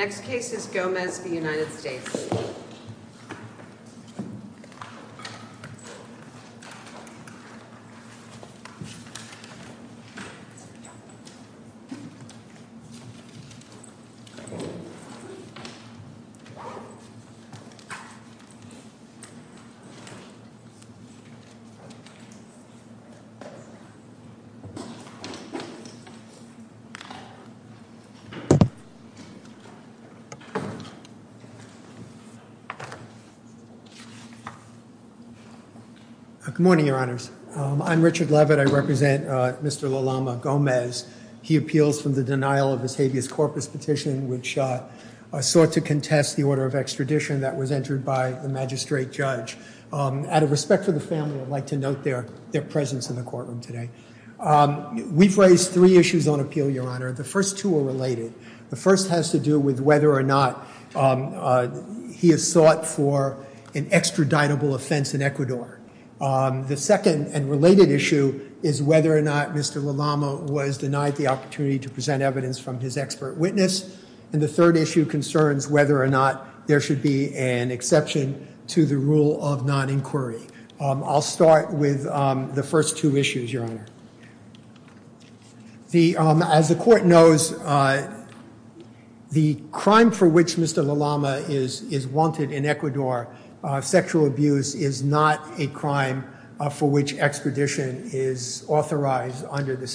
Next case is Gomez v. United States. Good morning, your honors. I'm Richard Levitt. I represent Mr. LaLama Gomez. He appeals from the denial of his habeas corpus petition, which sought to contest the order of extradition that was entered by the magistrate judge. Out of respect for the family, I'd like to note their presence in the courtroom today. We've raised three issues on appeal, your honor, whether or not he has sought for an extraditable offense in Ecuador. The second and related issue is whether or not Mr. LaLama was denied the opportunity to present evidence from his expert witness. And the third issue concerns whether or not there should be an exception to the rule of non-inquiry. I'll start with the first two issues, your honor. As the court knows, the crime for which Mr. LaLama is wanted in Ecuador, sexual abuse, is not a crime for which extradition is authorized under the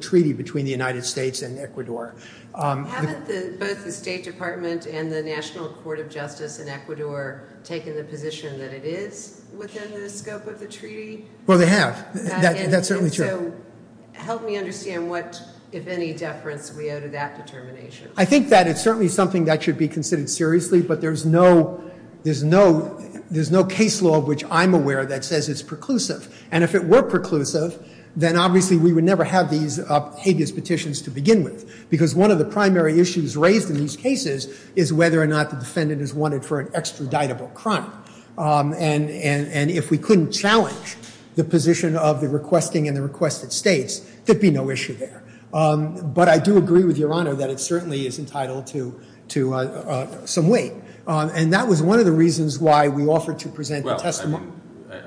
treaty between the United States and Ecuador. Haven't both the State Department and the National Court of Justice in Ecuador taken the position that it is within the scope of the treaty? Well, they have. That's certainly true. And so help me understand what, if any, deference we owe to that determination. I think that it's certainly something that should be considered seriously, but there's no case law of which I'm aware that says it's preclusive. And if it were preclusive, then obviously we would never have these habeas petitions to begin with. Because one of the primary issues raised in these cases is whether or not the defendant is wanted for an extraditable crime. And if we couldn't challenge the position of the requesting and the requested states, there'd be no issue there. But I do agree with your honor that it certainly is entitled to some weight. And that was one of the reasons why we offered to present the testimony. Well,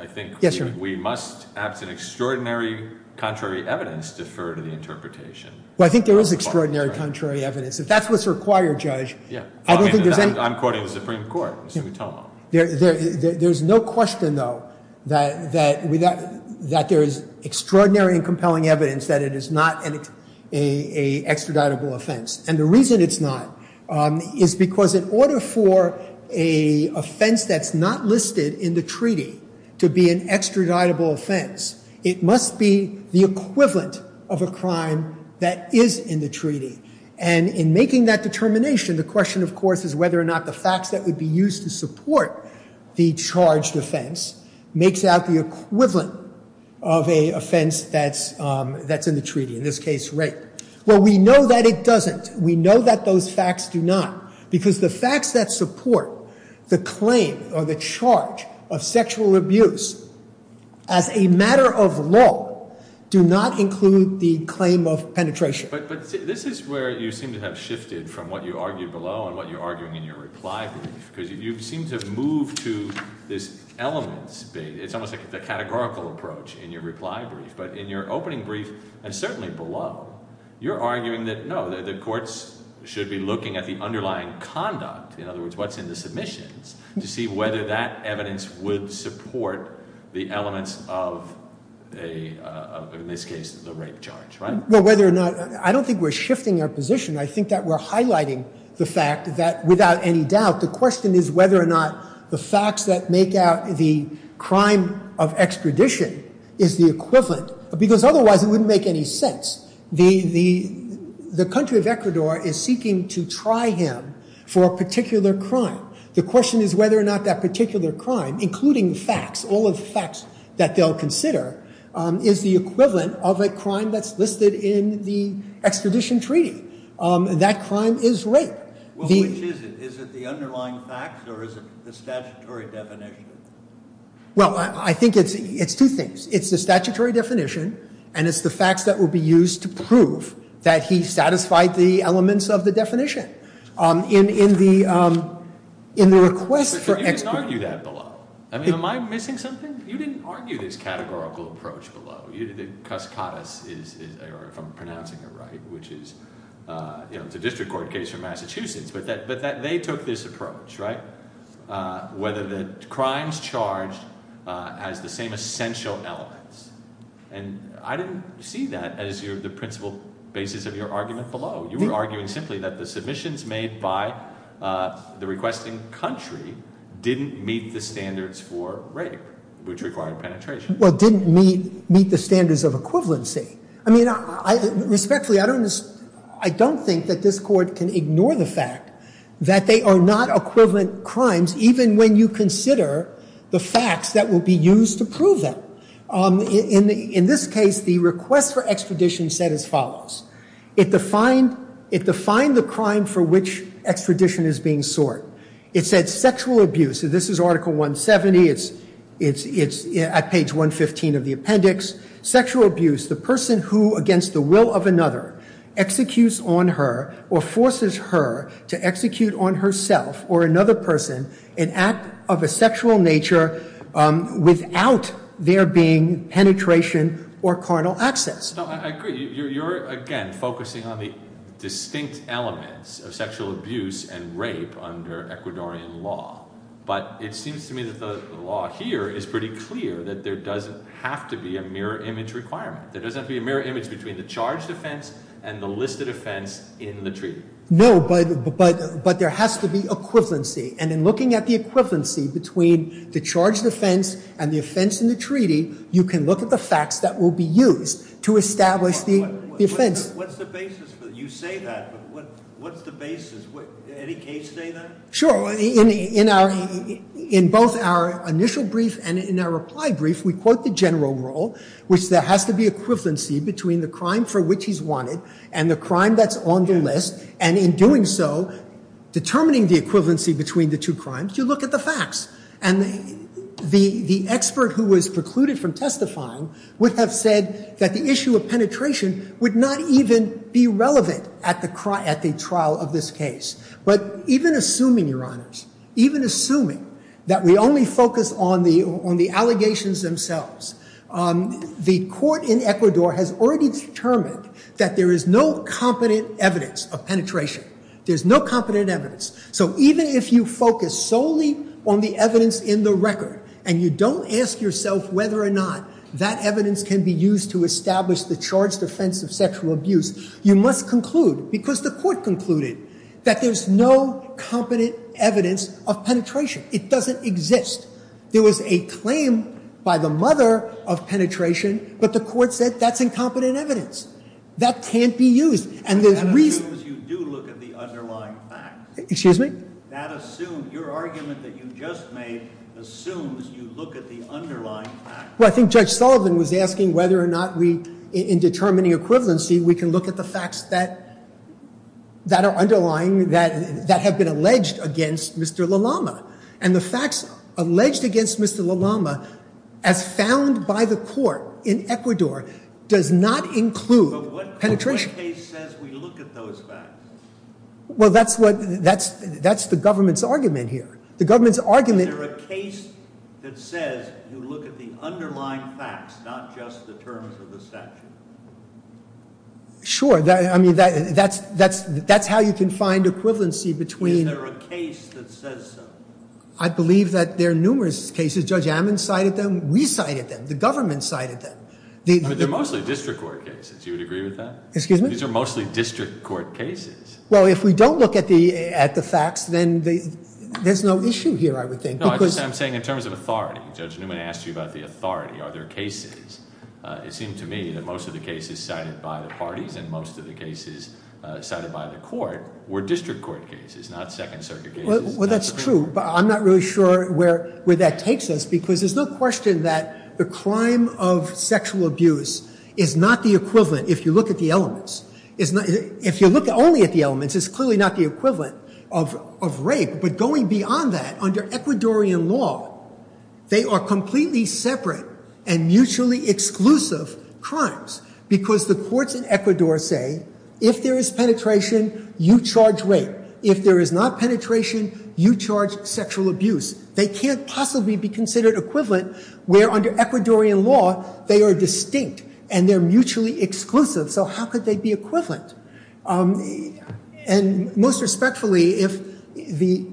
I think we must, perhaps in extraordinary contrary evidence, defer to the interpretation of the court. Well, I think there is extraordinary contrary evidence. If that's what's required, Judge, I don't think there's any... I'm quoting the Supreme Court. There's no question, though, that there is extraordinary and compelling evidence that it is not an extraditable offense. And the reason it's not is because in order for an offense that's not listed in the treaty to be an extraditable offense, it must be the equivalent of a crime that is in the treaty. And in making that determination, the question, of course, is whether or not the facts that would be used to support the charged offense makes out the equivalent of a offense that's in the treaty. In this case, rape. Well, we know that it doesn't. We know that those facts do not. Because the facts that support the claim or the charge of sexual abuse as a matter of law do not include the claim of penetration. But this is where you seem to have shifted from what you argued below and what you're arguing in your reply brief. Because you seem to have moved to this elements. It's almost like the categorical approach in your reply brief. But in your opening brief, and certainly below, you're arguing that, no, the courts should be looking at the underlying conduct, in other words, what's in the submissions, to see whether that evidence would support the elements of, in this case, the rape charge, right? Well, whether or not, I don't think we're shifting our position. I think that we're highlighting the fact that, without any doubt, the question is whether or not the facts that make out the crime of extradition is the equivalent. Because otherwise, it wouldn't make any sense. The country of Ecuador is seeking to try him for a particular crime. The question is whether or not that particular crime, including facts, all of the facts that they'll consider, is the equivalent of a crime that's listed in the extradition treaty. That crime is rape. Well, which is it? Is it the underlying facts or is it the statutory definition? Well, I think it's two things. It's the statutory definition, and it's the facts that will be used to prove that he satisfied the elements of the definition. In the request for extradition I mean, am I missing something? You didn't argue this categorical approach below. Cus Cadiz, if I'm pronouncing it right, which is a district court case from Massachusetts, but that they took this approach, right? Whether the crimes charged has the same essential elements. And I didn't see that as the principal basis of your argument below. You were arguing simply that the submissions made by the requesting country didn't meet the standards for rape, which required penetration. Well, it didn't meet the standards of equivalency. I mean, respectfully, I don't think that this court can ignore the fact that they are not equivalent crimes, even when you consider the facts that will be used to prove them. In this case, the request for extradition said as follows. It defined the crime for which extradition is being sought. It said sexual abuse. This is Article 170. It's at page 115 of the appendix. Sexual abuse, the person who, against the will of another, executes on her or forces her to execute on herself or another person an act of a sexual nature without there being penetration or carnal access. No, I agree. You're, again, focusing on the distinct elements of sexual abuse and rape under Ecuadorian law. But it seems to me that the law here is pretty clear that there doesn't have to be a mirror image requirement. There doesn't have to be a mirror image between the charged offense and the listed offense in the treaty. No, but there has to be equivalency. And in looking at the equivalency between the charged offense and the offense in the treaty, you can look at the facts that will be used to establish the offense. What's the basis? You say that, but what's the basis? Did Eddie Cage say that? Sure. In both our initial brief and in our reply brief, we quote the general rule, which there has to be equivalency between the crime for which he's wanted and the crime that's on the list. And in doing so, determining the equivalency between the two crimes, you the expert who was precluded from testifying would have said that the issue of penetration would not even be relevant at the trial of this case. But even assuming, Your Honors, even assuming that we only focus on the allegations themselves, the court in Ecuador has already determined that there is no competent evidence of penetration. There's no competent evidence. So even if you focus solely on the evidence in the record and you don't ask yourself whether or not that evidence can be used to establish the charged offense of sexual abuse, you must conclude, because the court concluded, that there's no competent evidence of penetration. It doesn't exist. There was a claim by the mother of penetration, but the court said that's incompetent evidence. That can't be used. Excuse me? Well, I think Judge Sullivan was asking whether or not we, in determining equivalency, we can look at the facts that are underlying, that have been alleged against Mr. LaLama. And the facts alleged against Mr. LaLama, as found by the court in Ecuador, does not include penetration. But what case says we look at those facts? Well, that's what, that's the government's argument here. The government's argument Is there a case that says you look at the underlying facts, not just the terms of the statute? Sure. I mean, that's how you can find equivalency between Is there a case that says so? I believe that there are numerous cases. Judge Ammon cited them. We cited them. The government cited them. But they're mostly district court cases. Do you agree with that? Excuse me? These are mostly district court cases. Well, if we don't look at the facts, then there's no issue here, I would think. No, I'm saying in terms of authority. Judge Newman asked you about the authority. Are there cases? It seemed to me that most of the cases cited by the parties and most of the cases cited by the court were district court cases, not Second Circuit cases. Well, that's true, but I'm not really sure where that takes us because there's no equivalent if you look at the elements. If you look only at the elements, it's clearly not the equivalent of rape. But going beyond that, under Ecuadorian law, they are completely separate and mutually exclusive crimes because the courts in Ecuador say if there is penetration, you charge rape. If there is not penetration, you charge sexual abuse. They can't possibly be considered equivalent where under Ecuadorian law, they are distinct and they're mutually exclusive. So how could they be equivalent? And most respectfully, the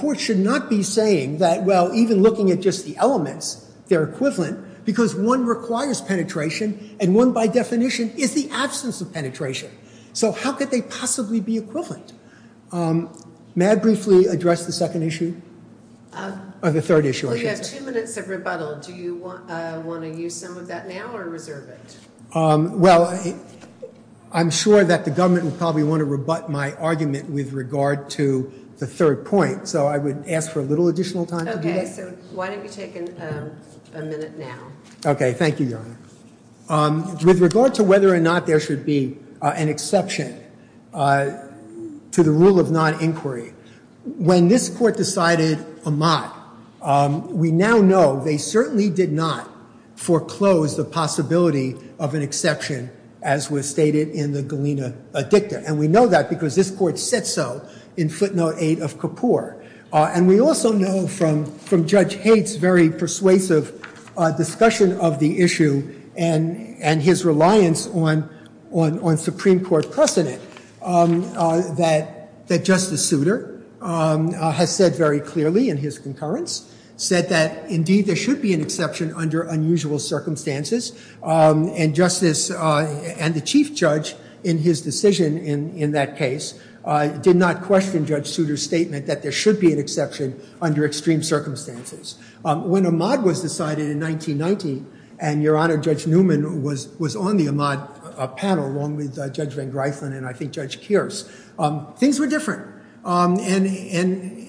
court should not be saying that, well, even looking at just the elements, they're equivalent because one requires penetration and one, by definition, is the absence of penetration. So how could they possibly be equivalent? May I briefly address the second issue? Or the third issue, I should say. Do you want to use some of that now or reserve it? Well, I'm sure that the government will probably want to rebut my argument with regard to the third point, so I would ask for a little additional time to do that. Okay, so why don't you take a minute now? Okay, thank you, Your Honor. With regard to whether or not there should be an exception to the rule of non-inquiry, when this court decided amat, we now know they certainly did not foreclose the possibility of an exception as was stated in the Galena Dicta. And we know that because this court said so in footnote eight of Kapor. And we also know from Judge Haidt's very persuasive discussion of the issue and his reliance on Supreme Court precedent that Justice Souter has said very clearly in his concurrence, said that indeed there should be an exception under unusual circumstances. And Justice, and the Chief Judge in his decision in that case, did not question Judge Souter's statement that there should be an exception under extreme circumstances. When amat was decided in 1990, and Your Honor, Judge Newman was on the amat panel along with Judge Van Griffen and I think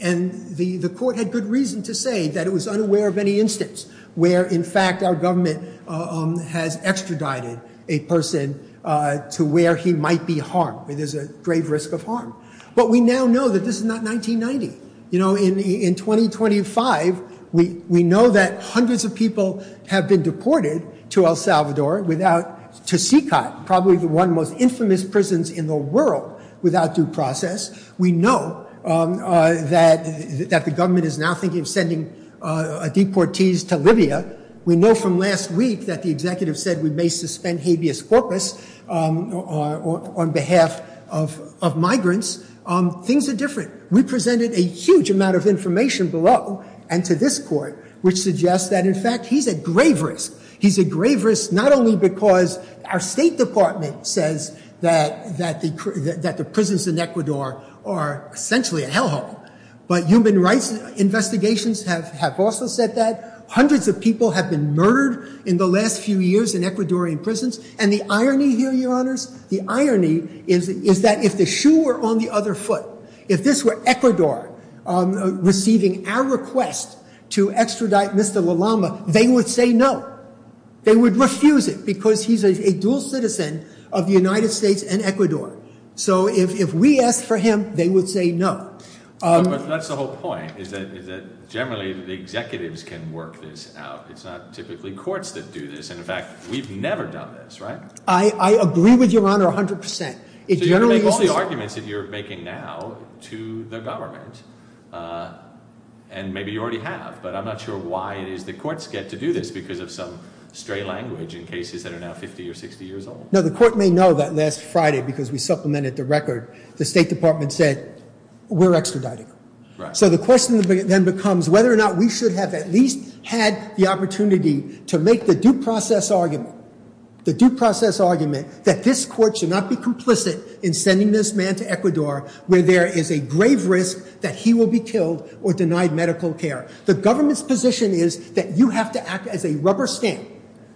And the court had good reason to say that it was unaware of any instance where in fact our government has extradited a person to where he might be harmed, where there's a grave risk of harm. But we now know that this is not 1990. You know, in 2025, we know that hundreds of people have been deported to El Salvador without, to one, most infamous prisons in the world without due process. We know that the government is now thinking of sending deportees to Libya. We know from last week that the executive said we may suspend habeas corpus on behalf of migrants. Things are different. We presented a huge amount of information below and to this court, which suggests that in fact he's at grave risk. He's at grave risk not only because our state department says that the prisons in Ecuador are essentially a hell hole. But human rights investigations have also said that. Hundreds of people have been murdered in the last few years in Ecuadorian prisons. And the irony here, Your Honors, the irony is that if the shoe were on the other foot, if this were Ecuador receiving our request to extradite Mr. LaLama, they would say no. They would refuse it because he's a dual citizen of the United States and Ecuador. So if we asked for him, they would say no. But that's the whole point, is that generally the executives can work this out. It's not typically courts that do this. And in fact, we've never done this, right? I agree with Your Honor 100%. So you're going to make all these arguments that you're making now to the government. And maybe you already have. But I'm not sure why it is that courts get to do this because of some stray language in cases that are now 50 or 60 years old. No, the court may know that last Friday, because we supplemented the record, the state department said, we're extraditing him. So the question then becomes whether or not we should have at least had the opportunity to make the due process argument that this court should not be complicit in sending this man to Ecuador, where there is a grave risk that he will be killed or denied medical care. The government's position is that you have to act as a rubber stamp,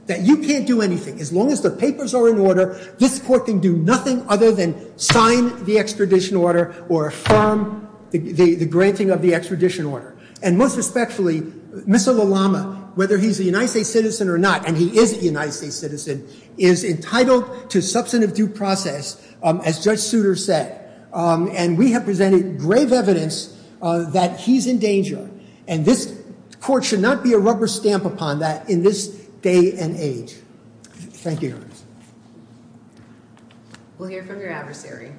that you can't do anything. As long as the papers are in order, this court can do nothing other than sign the extradition order or affirm the granting of the extradition order. And most respectfully, Mr. Lallama, whether he's a United States citizen or not, and he is a United States citizen, is entitled to substantive due process, as Judge Souter said. And we have presented grave evidence that he's in danger. And this court should not be a rubber stamp upon that in this day and age. Thank you. We'll hear from your adversary.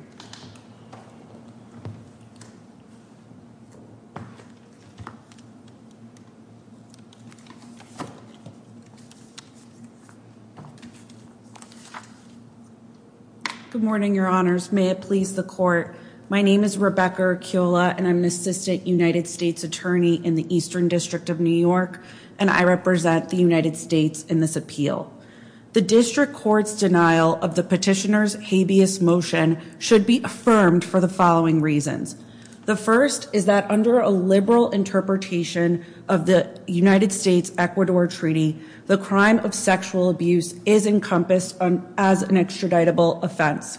Good morning, Your Honors. May it please the Court. My name is Rebecca Urquiola, and I'm an assistant United States attorney in the Eastern District of New York, and I represent the United States in this appeal. The district court's denial of the petitioner's habeas motion should be affirmed for the following reasons. The first is that under a liberal interpretation of the United States-Ecuador Treaty, the crime of sexual abuse is encompassed as an extraditable offense.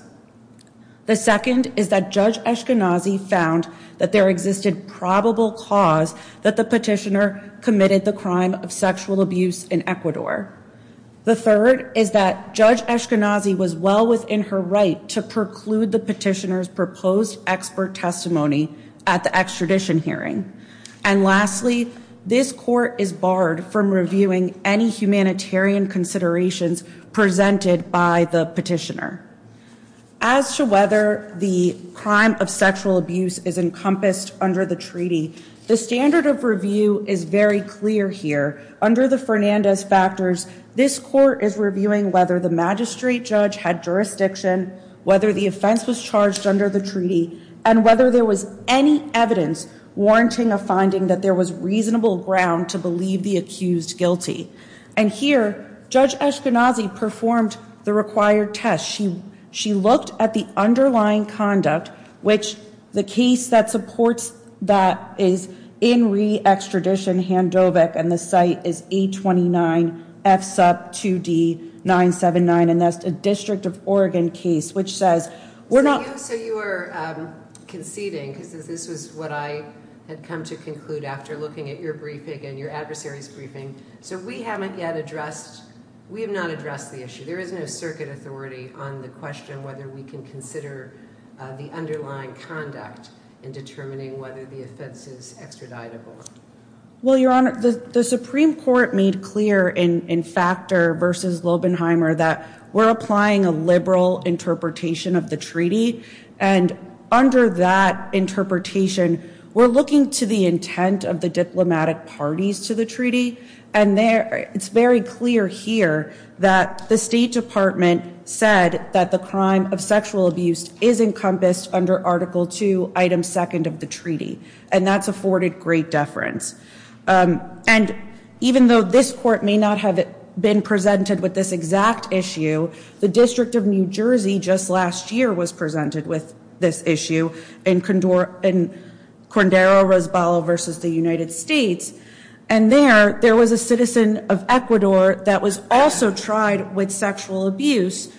The second is that Judge Eskenazi found that there existed probable cause that the petitioner committed the crime of sexual abuse in Ecuador. The third is that Judge Eskenazi was well within her right to preclude the petitioner's proposed expert testimony at the extradition hearing. And lastly, this court is barred from reviewing any humanitarian considerations presented by the petitioner. As to whether the crime of sexual abuse is encompassed under the treaty, the standard of review is very clear here. Under the Fernandez factors, this court is reviewing whether the magistrate judge had jurisdiction, whether the offense was charged under the treaty, and whether there was any evidence warranting a finding that there was reasonable ground to believe the accused guilty. And here, Judge Eskenazi performed the required test. She looked at the underlying conduct, which the case that supports that is in re-extradition, Handovec, and the site is 829F2D979, and that's a District of Oregon case, which says we're not. So you are conceding, because this is what I had come to conclude after looking at your briefing and your adversary's briefing. So we haven't yet addressed, we have not addressed the issue. There is no circuit authority on the question whether we can consider the underlying conduct in determining whether the offense is extraditable. Well, Your Honor, the Supreme Court made clear in Factor v. Lobenheimer that we're applying a liberal interpretation of the treaty, and under that interpretation, we're looking to the intent of the diplomatic parties to the treaty, and it's very clear here that the State Department said that the crime of sexual abuse is encompassed under Article II, Item 2nd of the treaty, and that's afforded great deference. And even though this Court may not have been presented with this exact issue, the District of New Jersey just last year was presented with this issue in Cordero-Rosbalo v. the United States. And there, there was a citizen of Ecuador that was also tried with sexual abuse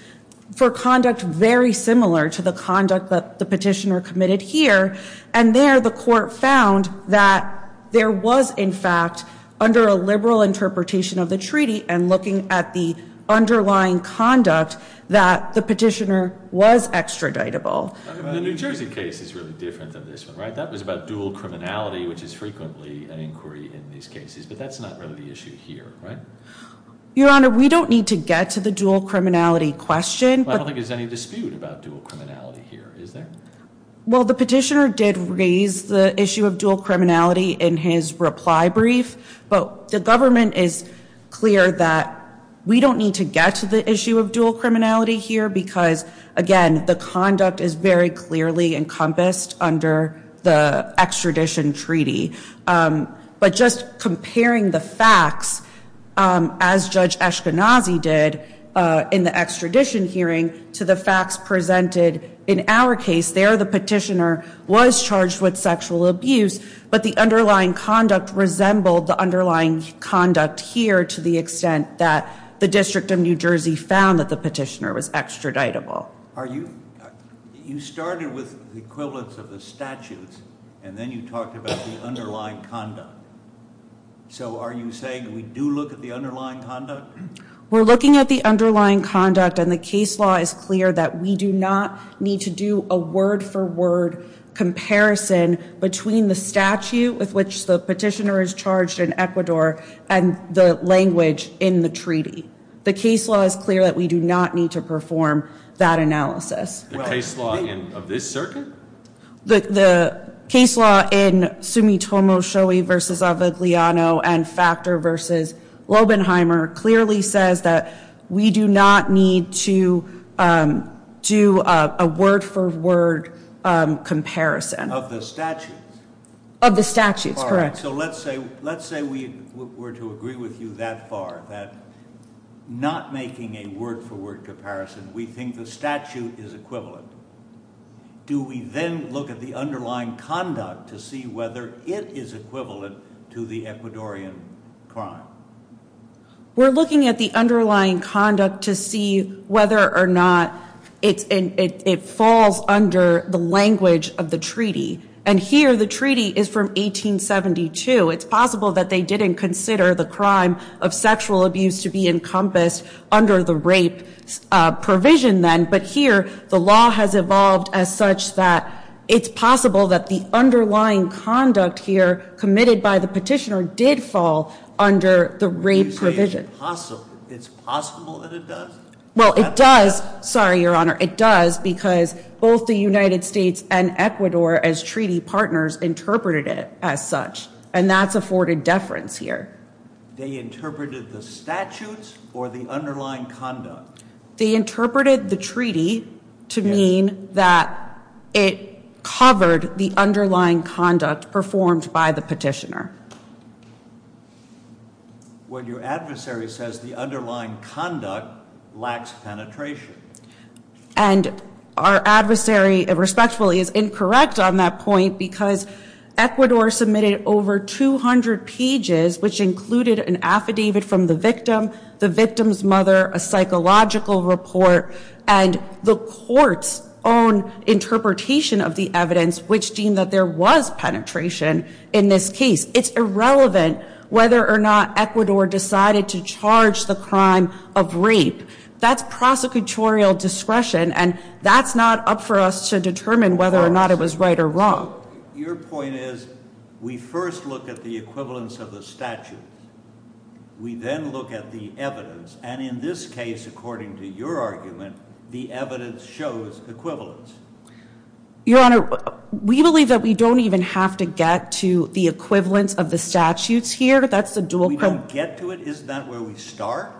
for conduct very similar to the conduct that the petitioner committed here, and there the Court found that there was, in fact, under a liberal interpretation of the treaty and looking at the underlying conduct, that the petitioner was extraditable. The New Jersey case is really different than this one, right? That was about dual criminality, which is frequently an inquiry in these cases, but that's not really the issue here, right? Your Honor, we don't need to get to the dual criminality question. Well, I don't think there's any dispute about dual criminality here, is there? Well, the petitioner did raise the issue of dual criminality in his reply brief, but the government is clear that we don't need to get to the issue of dual criminality here because, again, the conduct is very clearly encompassed under the extradition treaty. But just comparing the facts, as Judge Eskenazi did in the extradition hearing, to the facts presented in our case, there the petitioner was charged with sexual abuse, but the underlying conduct resembled the underlying conduct here to the extent that the District of New Jersey found that the petitioner was extraditable. You started with the equivalence of the statutes, and then you talked about the underlying conduct. So are you saying we do look at the underlying conduct? We're looking at the underlying conduct, and the case law is clear that we do not need to do a word-for-word comparison between the statute with which the petitioner is charged in Ecuador and the language in the treaty. The case law is clear that we do not need to perform that analysis. The case law of this circuit? The case law in Sumitomo-Shoei v. Avigliano and Factor v. Lobenheimer clearly says that we do not need to do a word-for-word comparison. Of the statutes? Of the statutes, correct. All right, so let's say we were to agree with you that far, that not making a word-for-word comparison, we think the statute is equivalent. Do we then look at the underlying conduct to see whether it is equivalent to the Ecuadorian crime? We're looking at the underlying conduct to see whether or not it falls under the language of the treaty, and here the treaty is from 1872. It's possible that they didn't consider the crime of sexual abuse to be encompassed under the rape provision then, but here the law has evolved as such that it's possible that the underlying conduct here committed by the petitioner did fall under the rape provision. You say it's possible? It's possible that it does? Well, it does. Sorry, Your Honor. It does because both the United States and Ecuador as treaty partners interpreted it as such, and that's afforded deference here. They interpreted the statutes or the underlying conduct? They interpreted the treaty to mean that it covered the underlying conduct performed by the petitioner. Well, your adversary says the underlying conduct lacks penetration. And our adversary respectfully is incorrect on that point because Ecuador submitted over 200 pages which included an affidavit from the victim, the victim's mother, a psychological report, and the court's own interpretation of the evidence which deemed that there was penetration in this case. It's irrelevant whether or not Ecuador decided to charge the crime of rape. That's prosecutorial discretion, and that's not up for us to determine whether or not it was right or wrong. Your point is we first look at the equivalence of the statutes. We then look at the evidence, and in this case, according to your argument, the evidence shows equivalence. Your Honor, we believe that we don't even have to get to the equivalence of the statutes here. We don't get to it? Isn't that where we start?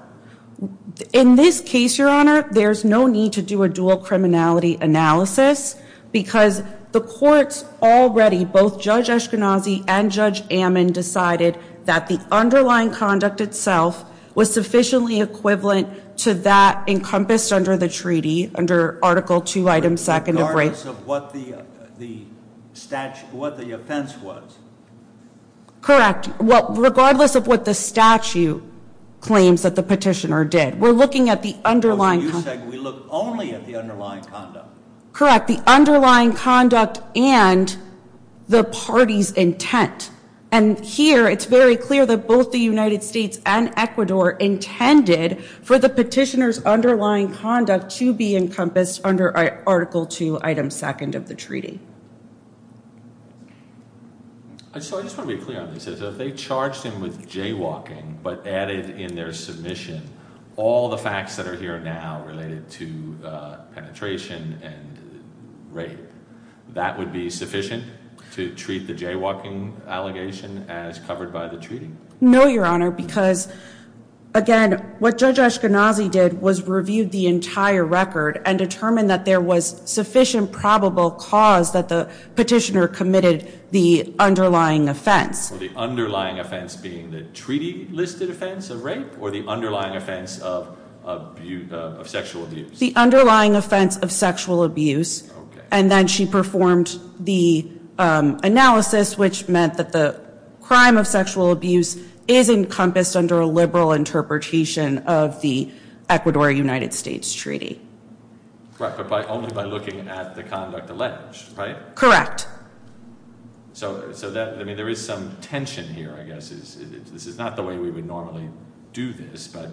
In this case, Your Honor, there's no need to do a dual criminality analysis because the courts already, both Judge Eskenazi and Judge Ammon, decided that the underlying conduct itself was sufficiently equivalent to that encompassed under the treaty, under Article 2, Item 2 of rape. Regardless of what the statute, what the offense was? Correct. Regardless of what the statute claims that the petitioner did. We're looking at the underlying conduct. So you're saying we look only at the underlying conduct? Correct. The underlying conduct and the party's intent. And here, it's very clear that both the United States and Ecuador intended for the petitioner's underlying conduct to be encompassed under Article 2, Item 2 of the treaty. So I just want to be clear on this. If they charged him with jaywalking but added in their submission all the facts that are here now related to penetration and rape, that would be sufficient to treat the jaywalking allegation as covered by the treaty? No, Your Honor, because again, what Judge Eskenazi did was reviewed the entire record and determined that there was sufficient probable cause that the petitioner committed the underlying offense. The underlying offense being the treaty-listed offense of rape or the underlying offense of sexual abuse? The underlying offense of sexual abuse. And then she performed the analysis, which meant that the crime of sexual abuse is encompassed under a liberal interpretation of the Ecuador-United States treaty. Right, but only by looking at the conduct alleged, right? Correct. So there is some tension here, I guess. This is not the way we would normally do this, but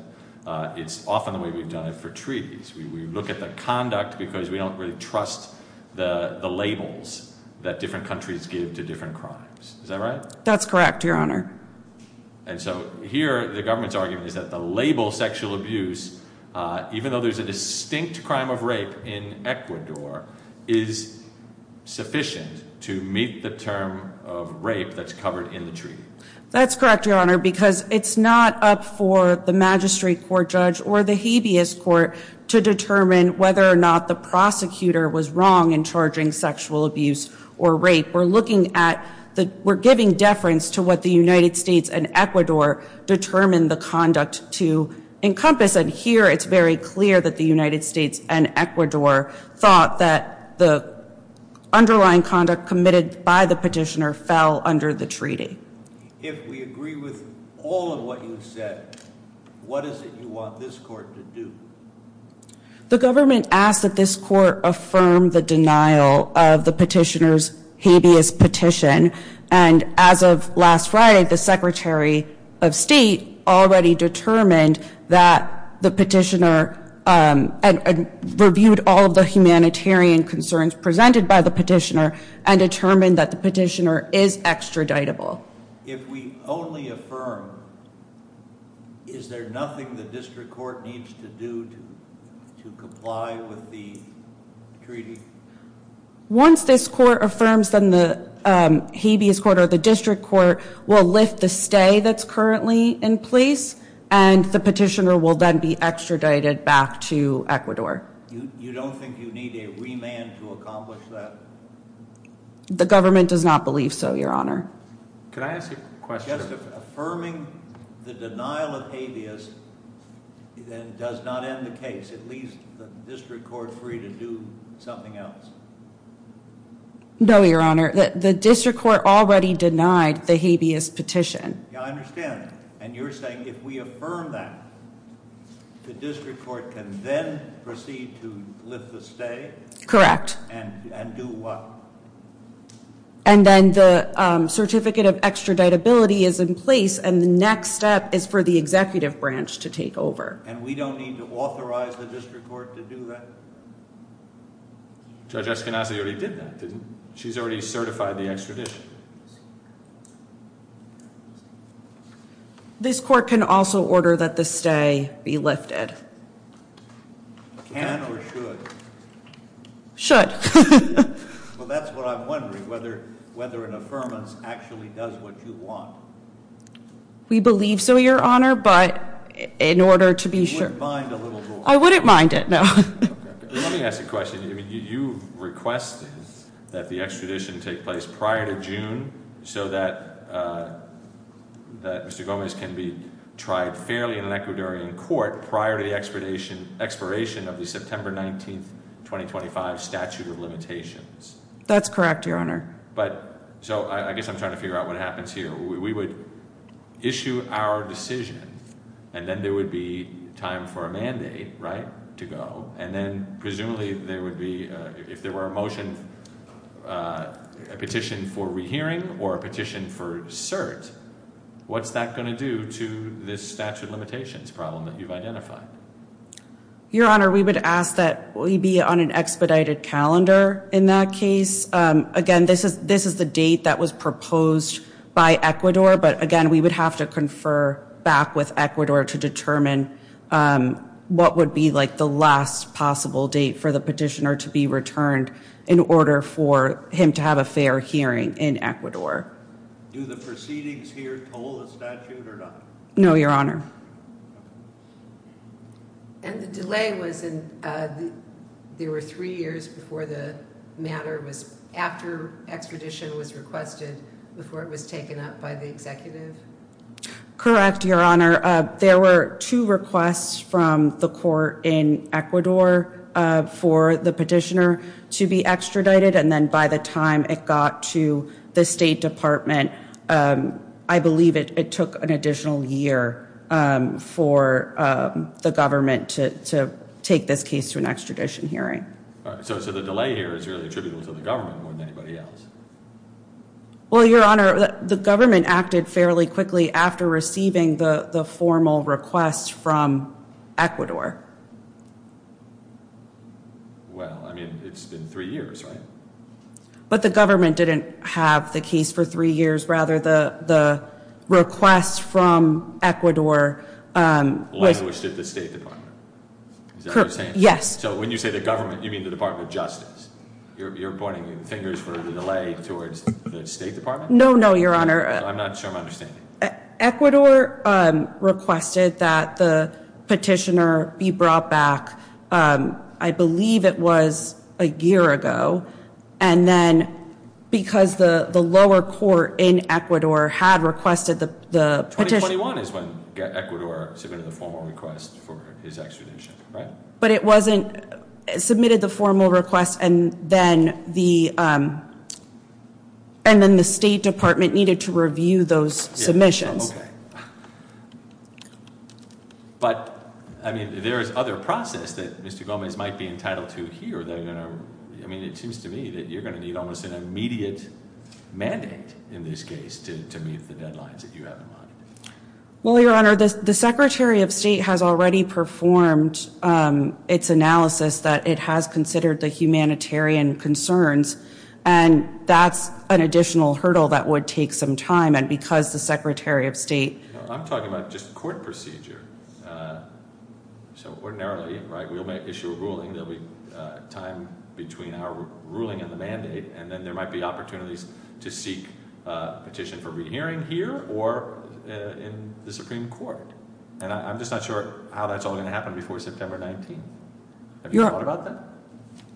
it's often the way we've done it for treaties. We look at the conduct because we don't really trust the labels that different countries give to different crimes. Is that right? That's correct, Your Honor. And so here the government's argument is that the label sexual abuse, even though there's a distinct crime of rape in Ecuador, is sufficient to meet the term of rape that's covered in the treaty. That's correct, Your Honor, because it's not up for the magistrate court judge or the habeas court to determine whether or not the prosecutor was wrong in charging sexual abuse or rape. We're looking at the—we're giving deference to what the United States and Ecuador determined the conduct to encompass, and here it's very clear that the United States and Ecuador thought that the underlying conduct committed by the petitioner fell under the treaty. If we agree with all of what you've said, what is it you want this court to do? The government asked that this court affirm the denial of the petitioner's habeas petition, and as of last Friday, the secretary of state already determined that the petitioner— reviewed all of the humanitarian concerns presented by the petitioner and determined that the petitioner is extraditable. If we only affirm, is there nothing the district court needs to do to comply with the treaty? Once this court affirms, then the habeas court or the district court will lift the stay that's currently in place, and the petitioner will then be extradited back to Ecuador. You don't think you need a remand to accomplish that? The government does not believe so, Your Honor. Can I ask a question? Just affirming the denial of habeas does not end the case. It leaves the district court free to do something else. No, Your Honor. The district court already denied the habeas petition. Yeah, I understand that. And you're saying if we affirm that, the district court can then proceed to lift the stay? Correct. And do what? And then the certificate of extraditability is in place, and the next step is for the executive branch to take over. And we don't need to authorize the district court to do that? Judge Escanasa already did that, didn't she? She's already certified the extradition. This court can also order that the stay be lifted. Can or should? Should. Well, that's what I'm wondering, whether an affirmance actually does what you want. We believe so, Your Honor, but in order to be sure. You wouldn't mind a little more? I wouldn't mind it, no. Let me ask a question. You requested that the extradition take place prior to June, so that Mr. Gomez can be tried fairly in an Ecuadorian court prior to the expiration of the September 19, 2025 statute of limitations. That's correct, Your Honor. So I guess I'm trying to figure out what happens here. We would issue our decision, and then there would be time for a mandate to go, and then presumably there would be, if there were a motion, a petition for rehearing or a petition for cert, what's that going to do to this statute of limitations problem that you've identified? Your Honor, we would ask that we be on an expedited calendar in that case. Again, this is the date that was proposed by Ecuador, but, again, we would have to confer back with Ecuador to determine what would be the last possible date for the petitioner to be returned in order for him to have a fair hearing in Ecuador. Do the proceedings here toll the statute or not? No, Your Honor. And the delay was, there were three years before the matter was, after extradition was requested, before it was taken up by the executive? Correct, Your Honor. There were two requests from the court in Ecuador for the petitioner to be extradited, and then by the time it got to the State Department, I believe it took an additional year for the government to take this case to an extradition hearing. So the delay here is really attributable to the government more than anybody else? Well, Your Honor, the government acted fairly quickly after receiving the formal request from Ecuador. Well, I mean, it's been three years, right? But the government didn't have the case for three years. Rather, the request from Ecuador was... Linguished at the State Department. Is that what you're saying? Yes. So when you say the government, you mean the Department of Justice? You're pointing fingers for the delay towards the State Department? No, no, Your Honor. I'm not sure I'm understanding. Ecuador requested that the petitioner be brought back, I believe it was a year ago. And then because the lower court in Ecuador had requested the petitioner... 2021 is when Ecuador submitted the formal request for his extradition, right? But it wasn't submitted the formal request and then the State Department needed to review those submissions. Okay. But, I mean, there is other process that Mr. Gomez might be entitled to hear. I mean, it seems to me that you're going to need almost an immediate mandate in this case to meet the deadlines that you have in mind. Well, Your Honor, the Secretary of State has already performed its analysis that it has considered the humanitarian concerns. And that's an additional hurdle that would take some time. And because the Secretary of State... I'm talking about just court procedure. So ordinarily, right, we'll issue a ruling. There'll be time between our ruling and the mandate. And then there might be opportunities to seek a petition for rehearing here or in the Supreme Court. And I'm just not sure how that's all going to happen before September 19. Have you thought about that?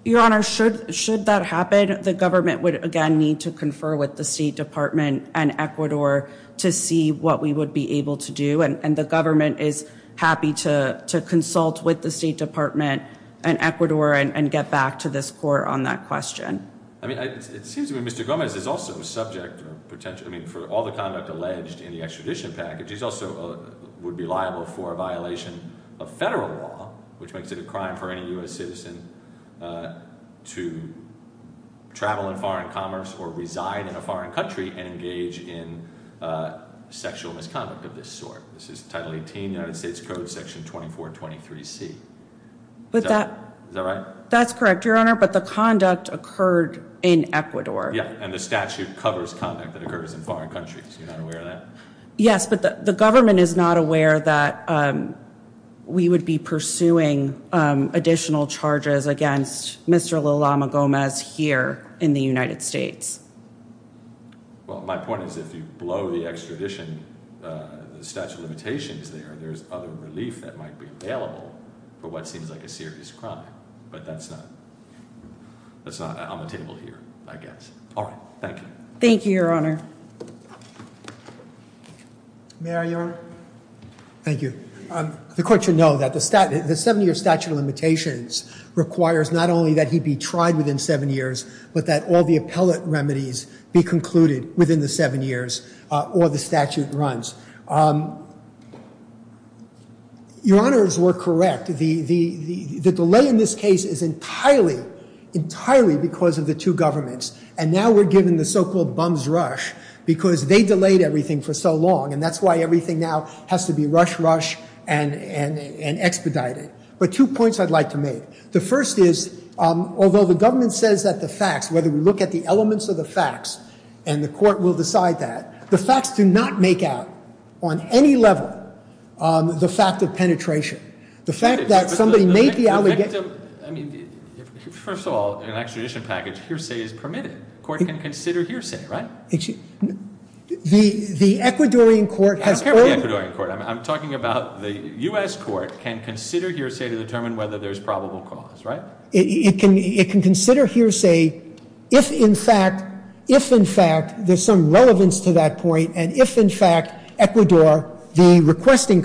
Your Honor, should that happen, the government would again need to confer with the State Department and Ecuador to see what we would be able to do. And the government is happy to consult with the State Department and Ecuador and get back to this court on that question. I mean, it seems to me Mr. Gomez is also subject or potentially, I mean, for all the conduct alleged in the extradition package, he also would be liable for a violation of federal law, which makes it a crime for any U.S. citizen to travel in foreign commerce or reside in a foreign country and engage in sexual misconduct of this sort. This is Title 18 of the United States Code, Section 2423C. Is that right? That's correct, Your Honor, but the conduct occurred in Ecuador. Yeah, and the statute covers conduct that occurs in foreign countries. You're not aware of that? Yes, but the government is not aware that we would be pursuing additional charges against Mr. Lulama Gomez here in the United States. Well, my point is if you blow the extradition statute of limitations there, there's other relief that might be available for what seems like a serious crime. But that's not on the table here, I guess. All right. Thank you. Thank you, Your Honor. May I, Your Honor? Thank you. The court should know that the seven-year statute of limitations requires not only that he be tried within seven years, but that all the appellate remedies be concluded within the seven years or the statute runs. Your Honors were correct. The delay in this case is entirely, entirely because of the two governments. And now we're given the so-called bum's rush because they delayed everything for so long, and that's why everything now has to be rush, rush and expedited. But two points I'd like to make. The first is, although the government says that the facts, whether we look at the elements of the facts, and the court will decide that, the facts do not make out on any level the fact of penetration. The fact that somebody made the allegation — First of all, in an extradition package, hearsay is permitted. The court can consider hearsay, right? The Ecuadorian court has — I don't care about the Ecuadorian court. I'm talking about the U.S. court can consider hearsay to determine whether there's probable cause, right? It can consider hearsay if, in fact, if, in fact, there's some relevance to that point, and if, in fact, Ecuador, the requesting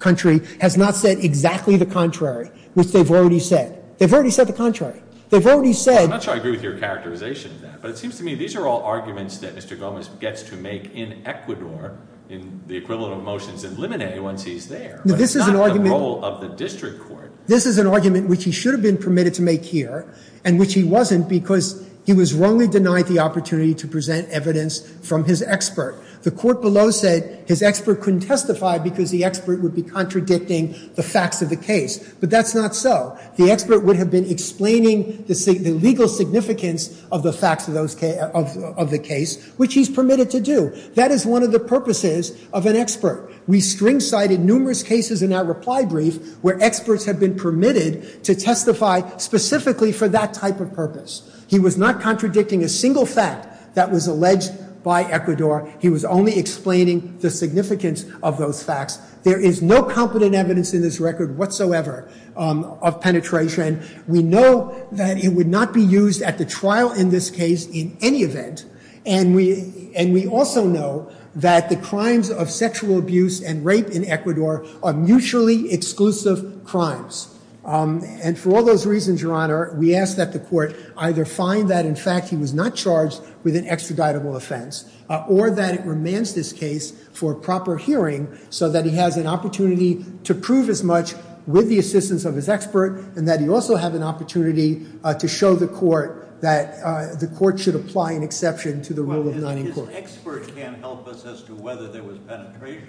country, has not said exactly the contrary, which they've already said. They've already said the contrary. They've already said — I'm not sure I agree with your characterization of that, but it seems to me these are all arguments that Mr. Gomez gets to make in Ecuador in the equivalent of motions in Limine once he's there. This is an argument — But it's not the role of the district court. This is an argument which he should have been permitted to make here, and which he wasn't because he was wrongly denied the opportunity to present evidence from his expert. The court below said his expert couldn't testify because the expert would be contradicting the facts of the case, but that's not so. The expert would have been explaining the legal significance of the facts of the case, which he's permitted to do. That is one of the purposes of an expert. We string-sided numerous cases in our reply brief where experts have been permitted to testify specifically for that type of purpose. He was not contradicting a single fact that was alleged by Ecuador. He was only explaining the significance of those facts. There is no competent evidence in this record whatsoever of penetration. We know that it would not be used at the trial in this case in any event, and we also know that the crimes of sexual abuse and rape in Ecuador are mutually exclusive crimes, and for all those reasons, Your Honor, we ask that the court either find that, in fact, he was not charged with an extraditable offense, or that it remands this case for proper hearing so that he has an opportunity to prove as much with the assistance of his expert and that he also have an opportunity to show the court that the court should apply an exception to the rule of non-incorporation. Well, his expert can't help us as to whether there was penetration.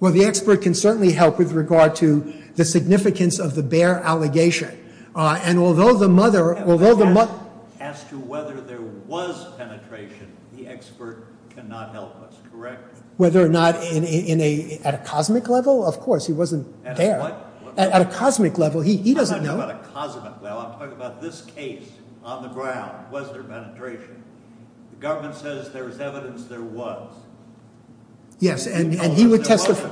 Well, the expert can certainly help with regard to the significance of the Baer allegation, and although the mother— As to whether there was penetration, the expert cannot help us, correct? Whether or not in a—at a cosmic level, of course. He wasn't there. At a what level? He doesn't know. I'm not talking about a cosmic level. I'm talking about this case on the ground. Was there penetration? The government says there's evidence there was. Yes, and he would testify.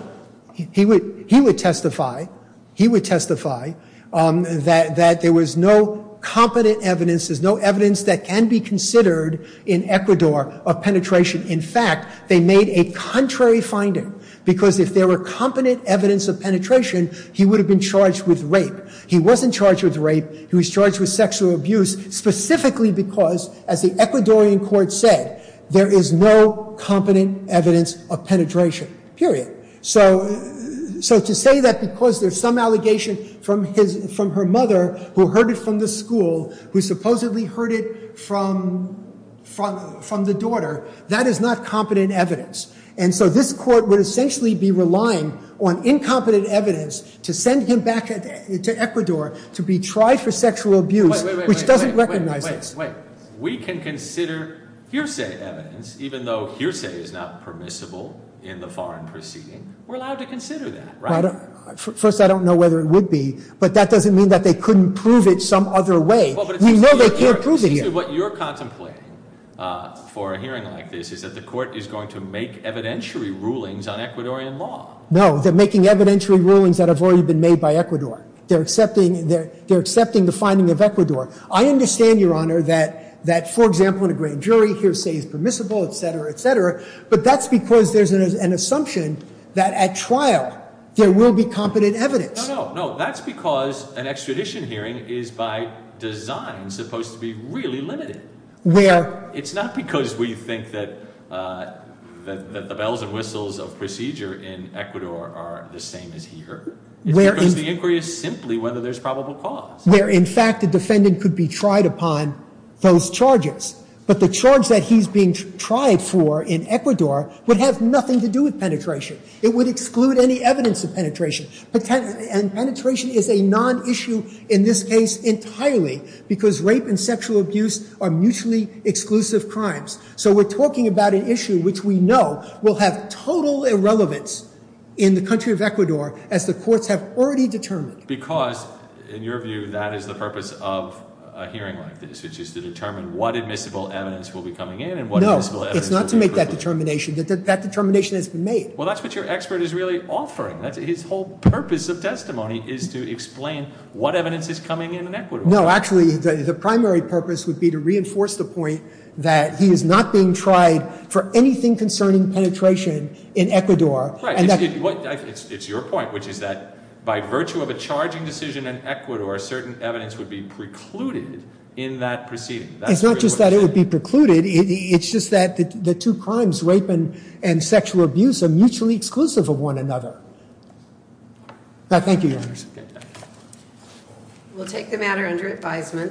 He would testify. He would testify that there was no competent evidence, there's no evidence that can be considered in Ecuador of penetration. In fact, they made a contrary finding because if there were competent evidence of penetration, he would have been charged with rape. He wasn't charged with rape. He was charged with sexual abuse specifically because, as the Ecuadorian court said, there is no competent evidence of penetration, period. So to say that because there's some allegation from his—from her mother who heard it from the school, who supposedly heard it from the daughter, that is not competent evidence. And so this court would essentially be relying on incompetent evidence to send him back to Ecuador to be tried for sexual abuse, which doesn't recognize this. Wait, wait, wait. We can consider hearsay evidence, even though hearsay is not permissible in the foreign proceeding. We're allowed to consider that, right? First, I don't know whether it would be, but that doesn't mean that they couldn't prove it some other way. We know they can't prove it yet. What you're contemplating for a hearing like this is that the court is going to make evidentiary rulings on Ecuadorian law. No, they're making evidentiary rulings that have already been made by Ecuador. They're accepting the finding of Ecuador. I understand, Your Honor, that, for example, in a grand jury, hearsay is permissible, et cetera, et cetera, but that's because there's an assumption that at trial there will be competent evidence. No, no, no. That's because an extradition hearing is by design supposed to be really limited. It's not because we think that the bells and whistles of procedure in Ecuador are the same as here. It's because the inquiry is simply whether there's probable cause. Where, in fact, the defendant could be tried upon those charges, but the charge that he's being tried for in Ecuador would have nothing to do with penetration. It would exclude any evidence of penetration. And penetration is a non-issue in this case entirely because rape and sexual abuse are mutually exclusive crimes. So we're talking about an issue which we know will have total irrelevance in the country of Ecuador as the courts have already determined. Because, in your view, that is the purpose of a hearing like this, which is to determine what admissible evidence will be coming in and what admissible evidence will be— No, it's not to make that determination. That determination has been made. Well, that's what your expert is really offering. His whole purpose of testimony is to explain what evidence is coming in in Ecuador. No, actually, the primary purpose would be to reinforce the point that he is not being tried for anything concerning penetration in Ecuador. Right. It's your point, which is that by virtue of a charging decision in Ecuador, certain evidence would be precluded in that proceeding. It's not just that it would be precluded. It's just that the two crimes, rape and sexual abuse, are mutually exclusive of one another. Thank you, Your Honor. We'll take the matter under advisement.